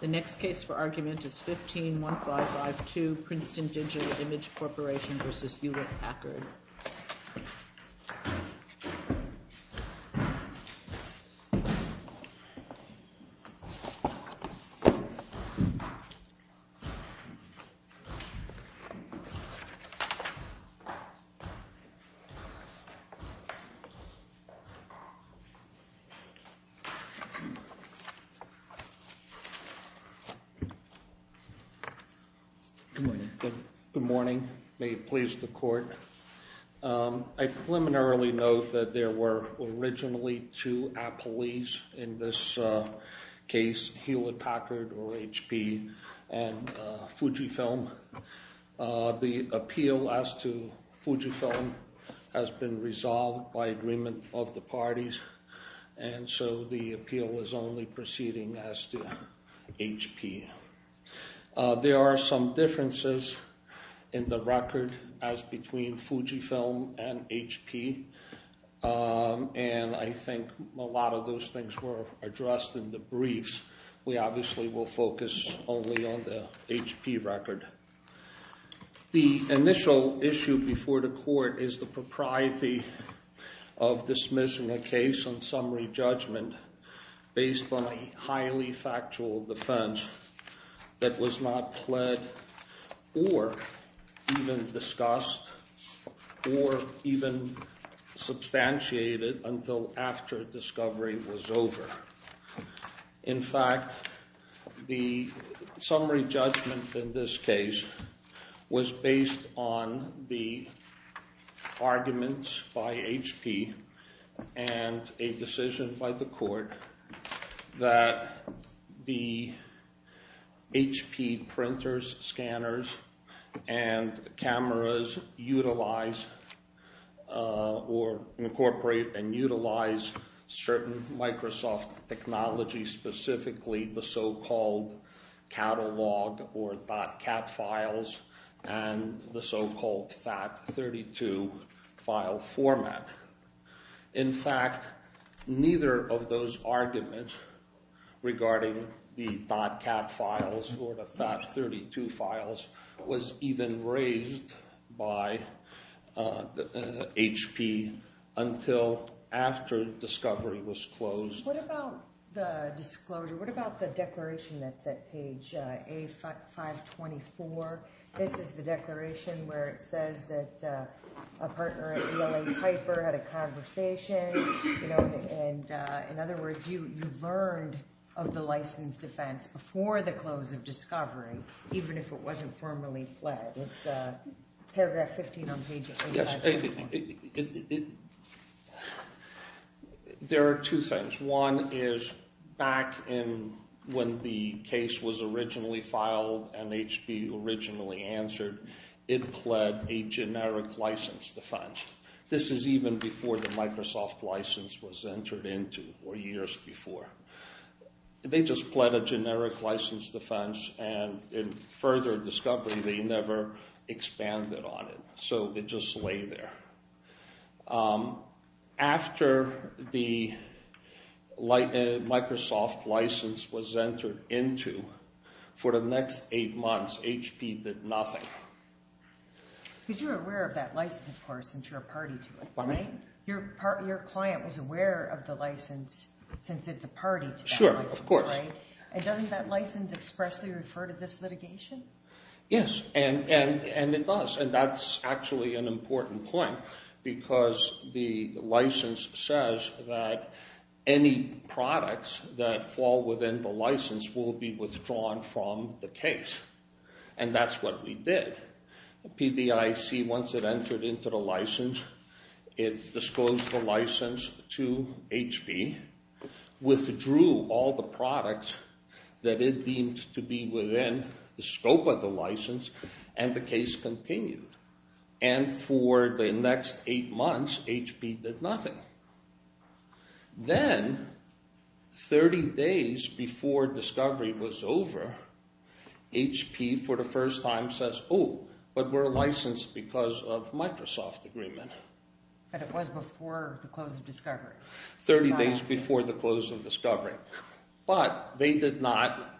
The next case for argument is 15-1552 Princeton Digital Image Corporation v. Hewlett-Packard Good morning. Good morning. May it please the court. I preliminarily note that there were originally two appellees in this case, Hewlett-Packard or HP, and Fujifilm. The appeal as to Fujifilm has been resolved by agreement of the parties, and so the appeal is only proceeding as to HP. There are some differences in the record as between Fujifilm and HP, and I think a lot of those things were addressed in the briefs. We obviously will focus only on the HP record. The initial issue before the court is the propriety of dismissing a case on summary judgment based on a highly factual defense that was not pled or even discussed or even substantiated until after discovery was over. In fact, the summary judgment in this case was based on the arguments by HP and a decision by the court that the HP printers, scanners, and cameras utilize or incorporate and utilize certain Microsoft technology, specifically the so-called catalog or .cat files and the so-called FAT32 file format. In fact, neither of those arguments regarding the .cat files or the FAT32 files was even raised by HP until after discovery was closed. What about the disclosure? What about the declaration that's at page A524? This is the declaration where it says that a partner at ELA Piper had a conversation. In other words, you learned of the licensed defense before the close of discovery, even if it wasn't formally pled. It's paragraph 15 on page A524. There are two things. One is back when the case was originally filed and HP originally answered, it pled a generic license defense. This is even before the Microsoft license was entered into or years before. They just pled a generic license defense and in further discovery they never expanded on it, so it just lay there. After the Microsoft license was entered into, for the next eight months HP did nothing. Because you're aware of that license, of course, since you're a party to it, right? Your client was aware of the license since it's a party to that license, right? Sure, of course. And doesn't that license expressly refer to this litigation? Yes, and it does. And that's actually an important point because the license says that any products that fall within the license will be withdrawn from the case. And that's what we did. PDIC, once it entered into the license, it disclosed the license to HP, withdrew all the products that it deemed to be within the scope of the license, and the case continued. And for the next eight months HP did nothing. Then 30 days before discovery was over, HP for the first time says, oh, but we're licensed because of Microsoft agreement. But it was before the close of discovery. 30 days before the close of discovery. But they did not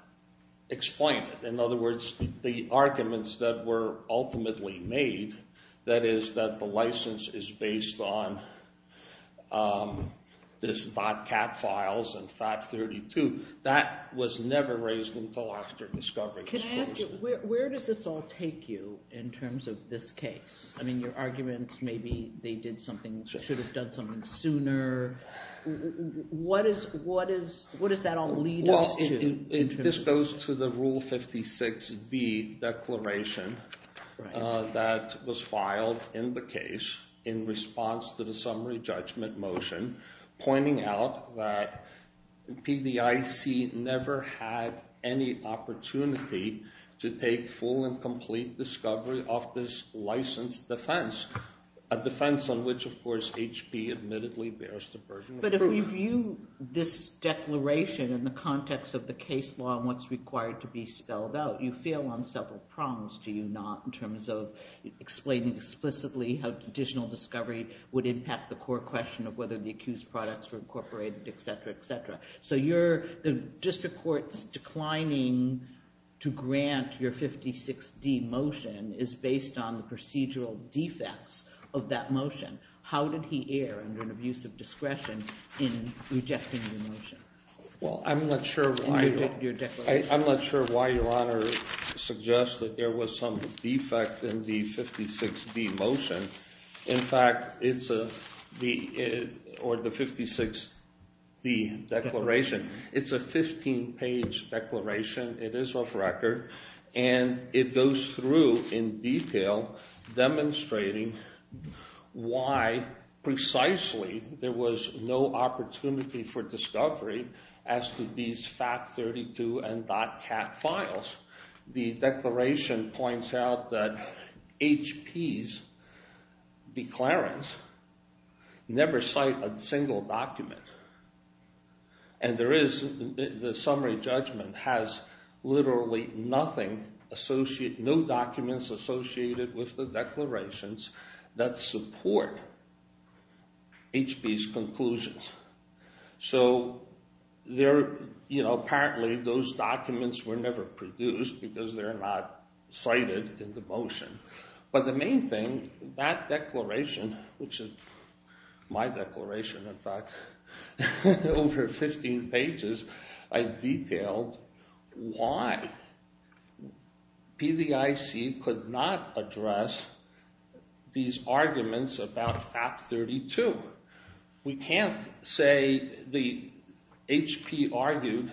explain it. In other words, the arguments that were ultimately made, that is that the license is based on this .cat files and FAT32, that was never raised until after discovery was closed. Where does this all take you in terms of this case? I mean, your arguments, maybe they did something, should have done something sooner. What does that all lead us to? It just goes to the Rule 56B declaration that was filed in the case in response to the summary judgment motion pointing out that PDIC never had any opportunity to take full and complete discovery of this licensed defense. A defense on which, of course, HP admittedly bears the burden of proof. Do you, this declaration in the context of the case law and what's required to be spelled out, you feel on several prongs, do you not, in terms of explaining explicitly how additional discovery would impact the core question of whether the accused products were incorporated, et cetera, et cetera. So the district court's declining to grant your 56D motion is based on the procedural defects of that motion. How did he err under an abuse of discretion in rejecting the motion? Well, I'm not sure why your Honor suggests that there was some defect in the 56D motion. In fact, it's a, or the 56D declaration, it's a 15-page declaration. It is off record, and it goes through in detail demonstrating why precisely there was no opportunity for discovery as to these FACT32 and DOTCAT files. The declaration points out that HP's declarants never cite a single document. And there is, the summary judgment has literally nothing, no documents associated with the declarations that support HP's conclusions. So there, you know, apparently those documents were never produced because they're not cited in the motion. But the main thing, that declaration, which is my declaration in fact, over 15 pages, I detailed why PDIC could not address these arguments about FACT32. We can't say the HP argued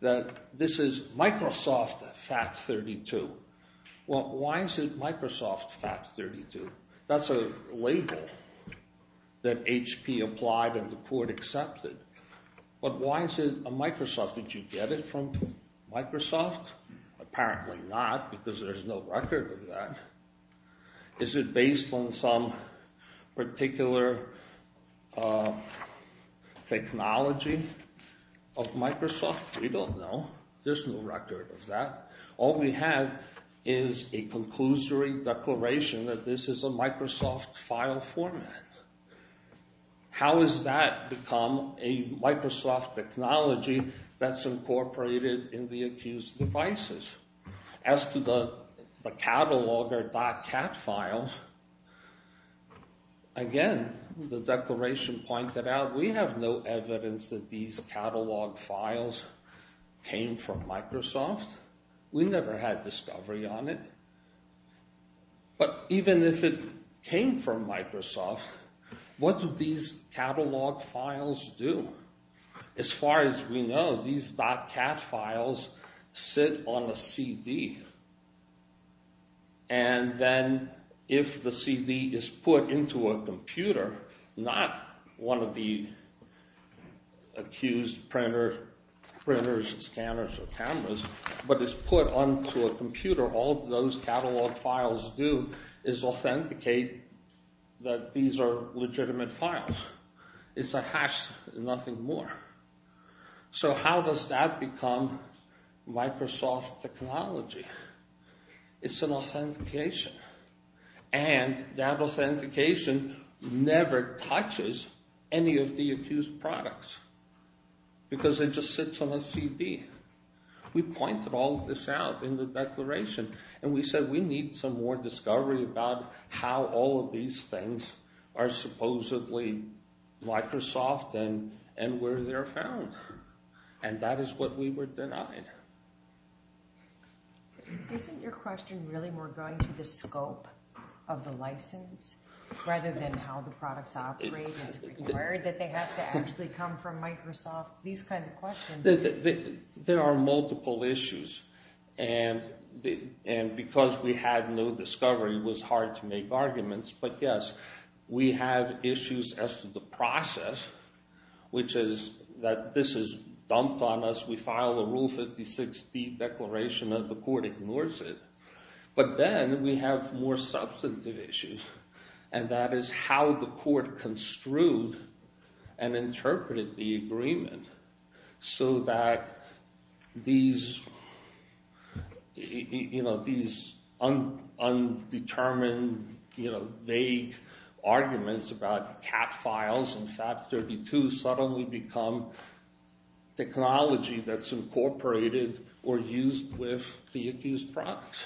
that this is Microsoft FACT32. Well, why is it Microsoft FACT32? That's a label that HP applied and the court accepted. But why is it a Microsoft? Did you get it from Microsoft? Apparently not, because there's no record of that. Is it based on some particular technology of Microsoft? We don't know. There's no record of that. All we have is a conclusory declaration that this is a Microsoft file format. How has that become a Microsoft technology that's incorporated in the accused devices? As to the catalog or .cat files, again, the declaration pointed out we have no evidence that these catalog files came from Microsoft. We never had discovery on it. But even if it came from Microsoft, what do these catalog files do? As far as we know, these .cat files sit on a CD. And then if the CD is put into a computer, not one of the accused printers, scanners, or cameras, but is put onto a computer, all those catalog files do is authenticate that these are legitimate files. It's a hash, nothing more. So how does that become Microsoft technology? It's an authentication. And that authentication never touches any of the accused products because it just sits on a CD. We pointed all of this out in the declaration, and we said we need some more discovery about how all of these things are supposedly Microsoft and where they're found. And that is what we were denied. Isn't your question really more going to the scope of the license rather than how the products operate? Is it required that they have to actually come from Microsoft? These kinds of questions. There are multiple issues. And because we had no discovery, it was hard to make arguments. But yes, we have issues as to the process, which is that this is dumped on us. We file a Rule 56D declaration, and the court ignores it. But then we have more substantive issues, and that is how the court construed and interpreted the agreement so that these undetermined, vague arguments about .cat files and FAT32 suddenly become technology. And that's incorporated or used with the accused product?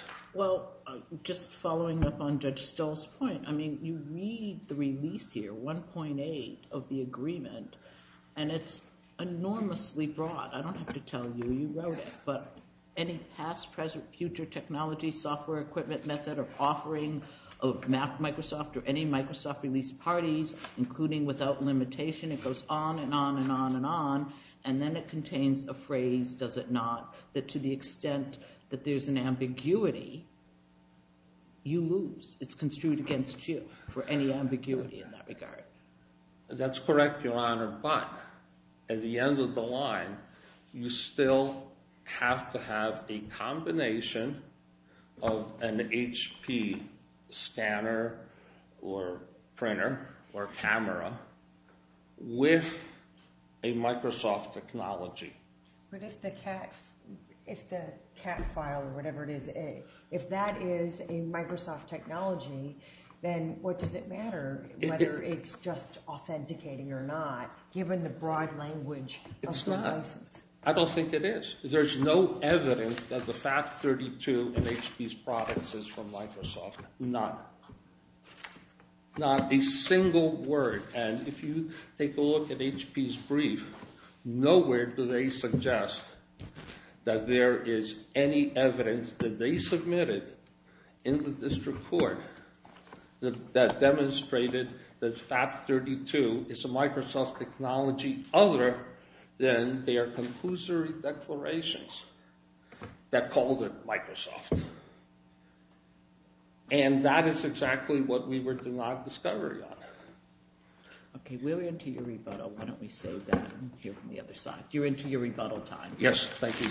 That's correct, Your Honor. But at the end of the line, you still have to have a combination of an HP scanner or printer or camera with a Microsoft technology. But if the .cat file or whatever it is, if that is a Microsoft technology, then what does it matter whether it's just authenticating or not, given the broad language of the license? And that is exactly what we were denied discovery on. OK, we're into your rebuttal. Why don't we save that and hear from the other side? You're into your rebuttal time. Yes, thank you.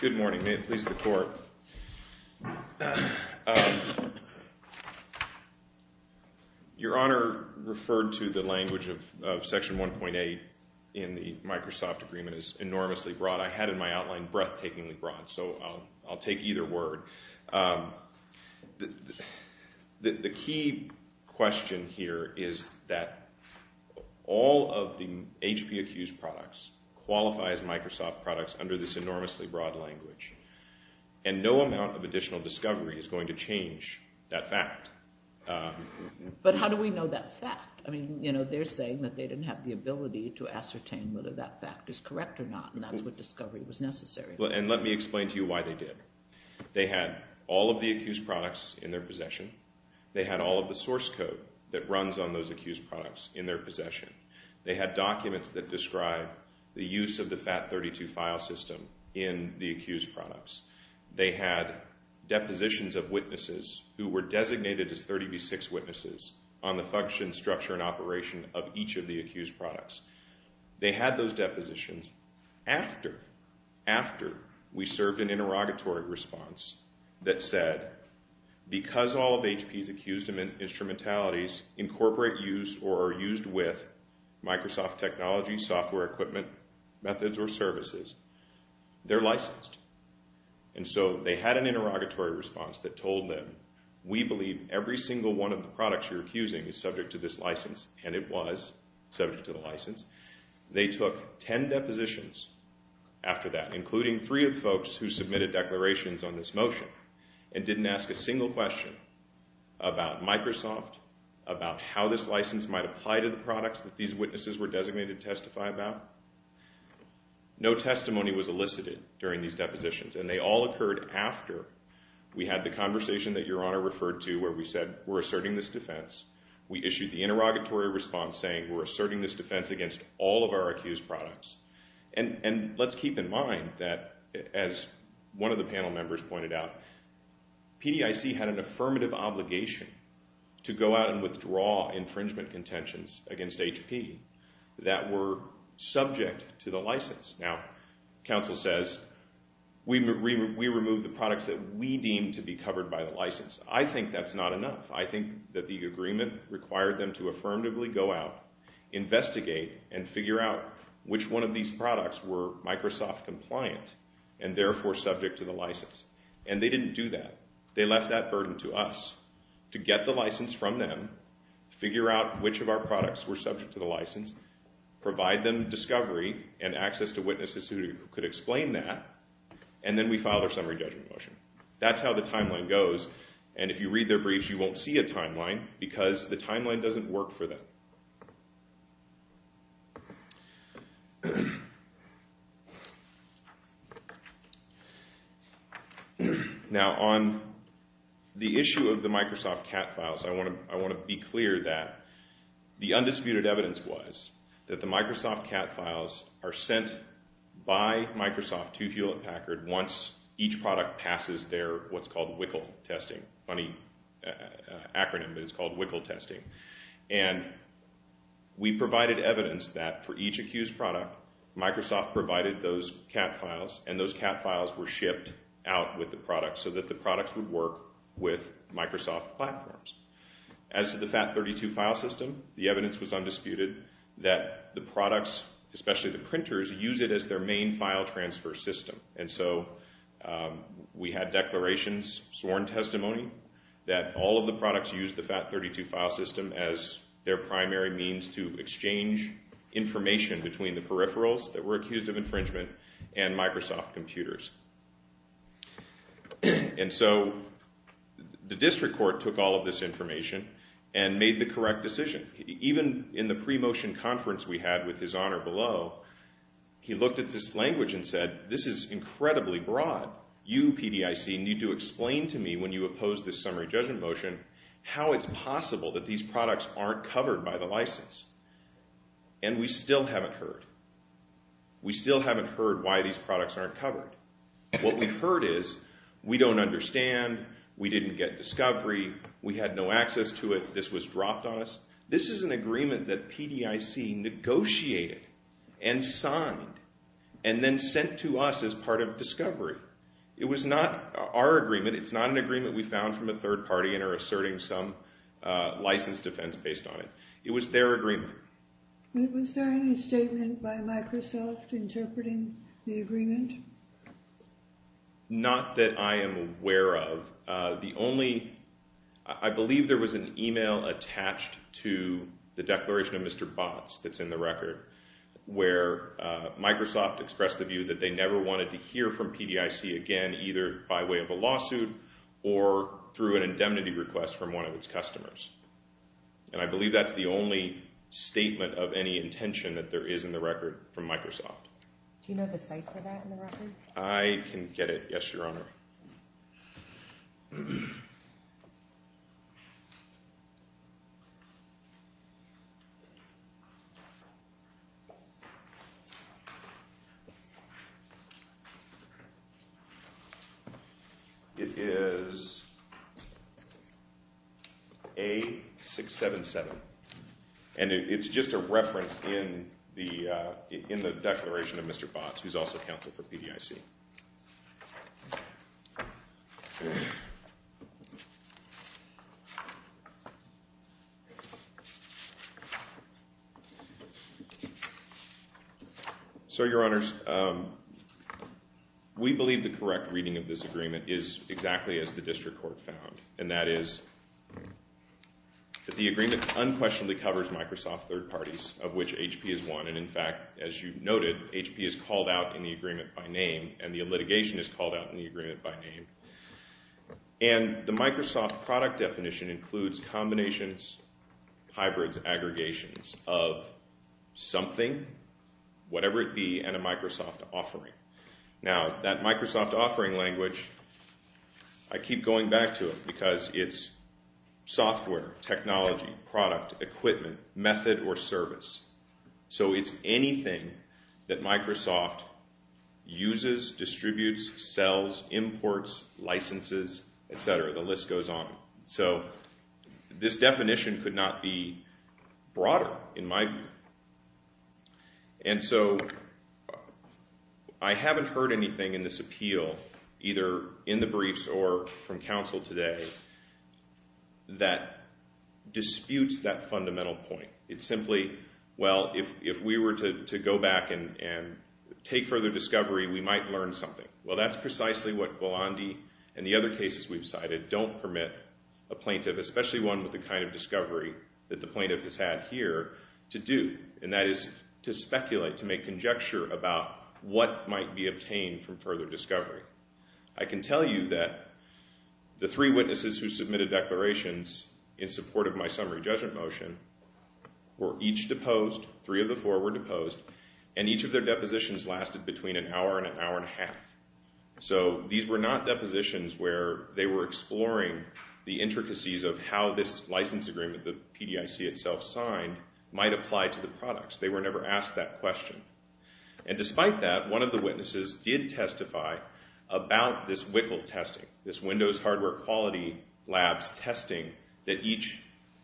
Good morning. May it please the court. Your Honor referred to the language of Section 1.8 in the Microsoft agreement as enormously broad. I had in my outline, breathtakingly broad, so I'll take either word. The key question here is that all of the HP accused products qualify as Microsoft products under this enormously broad language, and no amount of additional discovery is going to change that fact. But how do we know that fact? I mean, you know, they're saying that they didn't have the ability to ascertain whether that fact is correct or not, and that's what discovery was necessary. And let me explain to you why they did. They had all of the accused products in their possession. They had all of the source code that runs on those accused products in their possession. They had documents that describe the use of the FAT32 file system in the accused products. They had depositions of witnesses who were designated as 30 v. 6 witnesses on the function, structure and operation of each of the accused products. They had those depositions after we served an interrogatory response that said, because all of HP's accused instrumentalities incorporate use or are used with Microsoft technology, software equipment, methods or services, they're licensed. And so they had an interrogatory response that told them, we believe every single one of the products you're accusing is subject to this license, and it was subject to the license. They took 10 depositions after that, including three of the folks who submitted declarations on this motion, and didn't ask a single question about Microsoft, about how this license might apply to the products that these witnesses were designated to testify about. No testimony was elicited during these depositions, and they all occurred after we had the conversation that Your Honor referred to where we said, we're asserting this defense. We issued the interrogatory response saying, we're asserting this defense against all of our accused products. And let's keep in mind that, as one of the panel members pointed out, PDIC had an affirmative obligation to go out and withdraw infringement contentions against HP that were subject to the license. Now, counsel says, we remove the products that we deem to be covered by the license. I think that's not enough. I think that the agreement required them to affirmatively go out, investigate, and figure out which one of these products were Microsoft compliant, and therefore subject to the license. And they didn't do that. They left that burden to us to get the license from them, figure out which of our products were subject to the license, provide them discovery and access to witnesses who could explain that, and then we filed our summary judgment motion. That's how the timeline goes. And if you read their briefs, you won't see a timeline, because the timeline doesn't work for them. Now, on the issue of the Microsoft cat files, I want to be clear that the undisputed evidence was that the Microsoft cat files are sent by Microsoft to Hewlett Packard once each product passes their what's called WICL testing. Funny acronym, but it's called WICL testing. And we provided evidence that for each accused product, Microsoft provided those cat files, and those cat files were shipped out with the product so that the products would work with Microsoft platforms. As to the FAT32 file system, the evidence was undisputed that the products, especially the printers, use it as their main file transfer system. And so we had declarations, sworn testimony, that all of the products used the FAT32 file system as their primary means to exchange information between the peripherals that were accused of infringement and Microsoft computers. And so the district court took all of this information and made the correct decision. Even in the pre-motion conference we had with his honor below, he looked at this language and said, this is incredibly broad. You, PDIC, need to explain to me when you oppose this summary judgment motion how it's possible that these products aren't covered by the license. And we still haven't heard. We still haven't heard why these products aren't covered. What we've heard is, we don't understand, we didn't get discovery, we had no access to it, this was dropped on us. This is an agreement that PDIC negotiated and signed and then sent to us as part of discovery. It was not our agreement, it's not an agreement we found from a third party and are asserting some license defense based on it. It was their agreement. Was there any statement by Microsoft interpreting the agreement? Not that I am aware of. The only, I believe there was an email attached to the declaration of Mr. Botts that's in the record where Microsoft expressed the view that they never wanted to hear from PDIC again either by way of a lawsuit or through an indemnity request from one of its customers. And I believe that's the only statement of any intention that there is in the record from Microsoft. Do you know the site for that in the record? I can get it, yes your honor. It is A677 and it's just a reference in the declaration of Mr. Botts who is also counsel for PDIC. So your honors, we believe the correct reading of this agreement is exactly as the district court found and that is that the agreement unquestionably covers Microsoft third parties of which HP is one. And in fact as you noted HP is called out in the agreement by name and the litigation is called out in the agreement by name. And the Microsoft product definition includes combinations, hybrids, aggregations of something, whatever it be and a Microsoft offering. Now that Microsoft offering language, I keep going back to it because it's software, technology, product, equipment, method or service. So it's anything that Microsoft uses, distributes, sells, imports, licenses, etc. The list goes on. So this definition could not be broader in my view. And so I haven't heard anything in this appeal either in the briefs or from counsel today that disputes that fundamental point. It's simply, well, if we were to go back and take further discovery, we might learn something. Well, that's precisely what Buolandi and the other cases we've cited don't permit a plaintiff, especially one with the kind of discovery that the plaintiff has had here, to do. And that is to speculate, to make conjecture about what might be obtained from further discovery. I can tell you that the three witnesses who submitted declarations in support of my summary judgment motion were each deposed. Three of the four were deposed. And each of their depositions lasted between an hour and an hour and a half. So these were not depositions where they were exploring the intricacies of how this license agreement the PDIC itself signed might apply to the products. They were never asked that question. And despite that, one of the witnesses did testify about this WICL testing, this Windows Hardware Quality Labs testing that each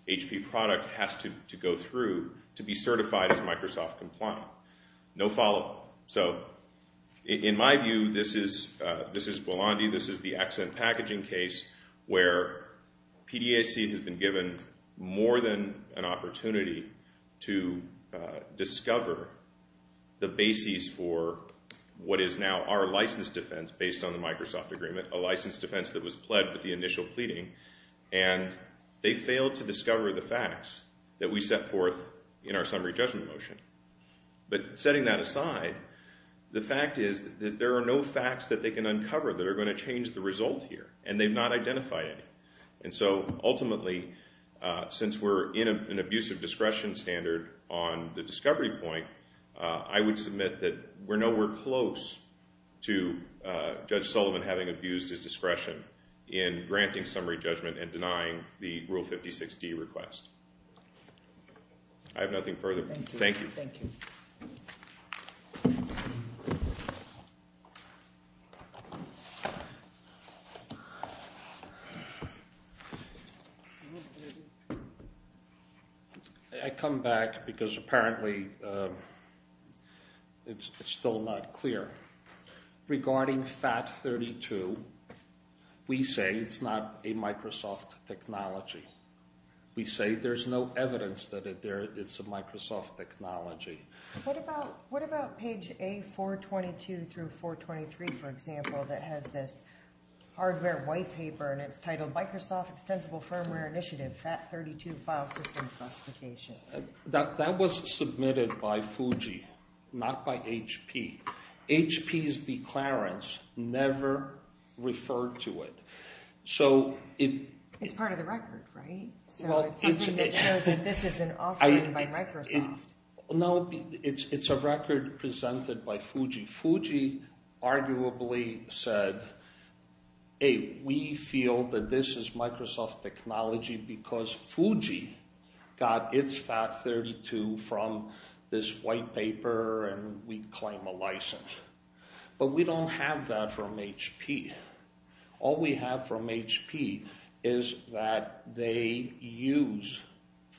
HP product has to go through to be certified as Microsoft compliant. No follow-up. So in my view, this is Buolandi. This is the accent packaging case where PDIC has been given more than an opportunity to discover the basis for what is now our license defense based on the Microsoft agreement, a license defense that was pled with the initial pleading. And they failed to discover the facts that we set forth in our summary judgment motion. But setting that aside, the fact is that there are no facts that they can uncover that are going to change the result here. And they've not identified any. And so ultimately, since we're in an abusive discretion standard on the discovery point, I would submit that we're nowhere close to Judge Sullivan having abused his discretion in granting summary judgment and denying the Rule 56D request. I have nothing further. Thank you. Thank you. I come back because apparently it's still not clear. Regarding FAT32, we say it's not a Microsoft technology. We say there's no evidence that it's a Microsoft technology. What about page A422 through 423, for example, that has this hardware white paper and it's titled Microsoft Extensible Firmware Initiative FAT32 File System Specification? That was submitted by Fuji, not by HP. HP's declarants never referred to it. It's part of the record, right? So it's something that shows that this is an offering by Microsoft. No, it's a record presented by Fuji. Fuji arguably said, hey, we feel that this is Microsoft technology because Fuji got its FAT32 from this white paper and we claim a license. But we don't have that from HP. All we have from HP is that they use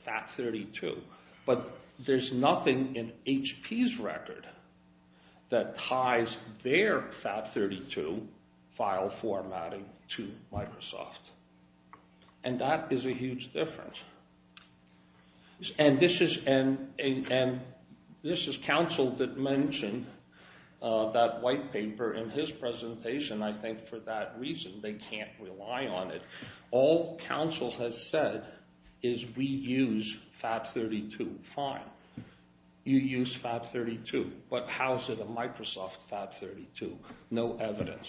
FAT32. But there's nothing in HP's record that ties their FAT32 file formatting to Microsoft. And that is a huge difference. And this is Council that mentioned that white paper in his presentation. I think for that reason they can't rely on it. All Council has said is we use FAT32. Fine, you use FAT32, but how is it a Microsoft FAT32? No evidence.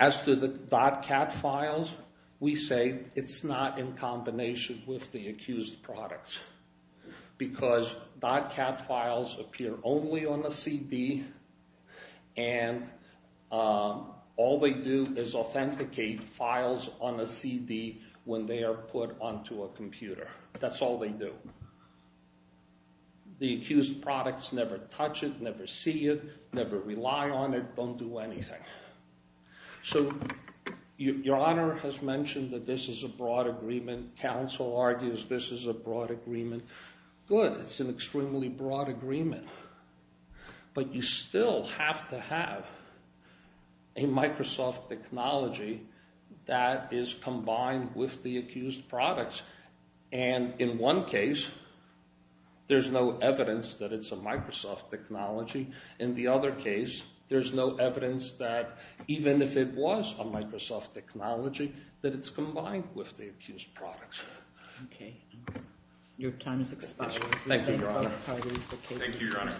As to the .cat files, we say it's not in combination with the accused products. Because .cat files appear only on the CD and all they do is authenticate files on the CD when they are put onto a computer. That's all they do. The accused products never touch it, never see it, never rely on it, don't do anything. Your Honor has mentioned that this is a broad agreement. Council argues this is a broad agreement. Good, it's an extremely broad agreement. But you still have to have a Microsoft technology that is combined with the accused products. And in one case, there's no evidence that it's a Microsoft technology. In the other case, there's no evidence that even if it was a Microsoft technology, that it's combined with the accused products. Okay, your time has expired. Thank you, Your Honor. Thank you, Your Honor.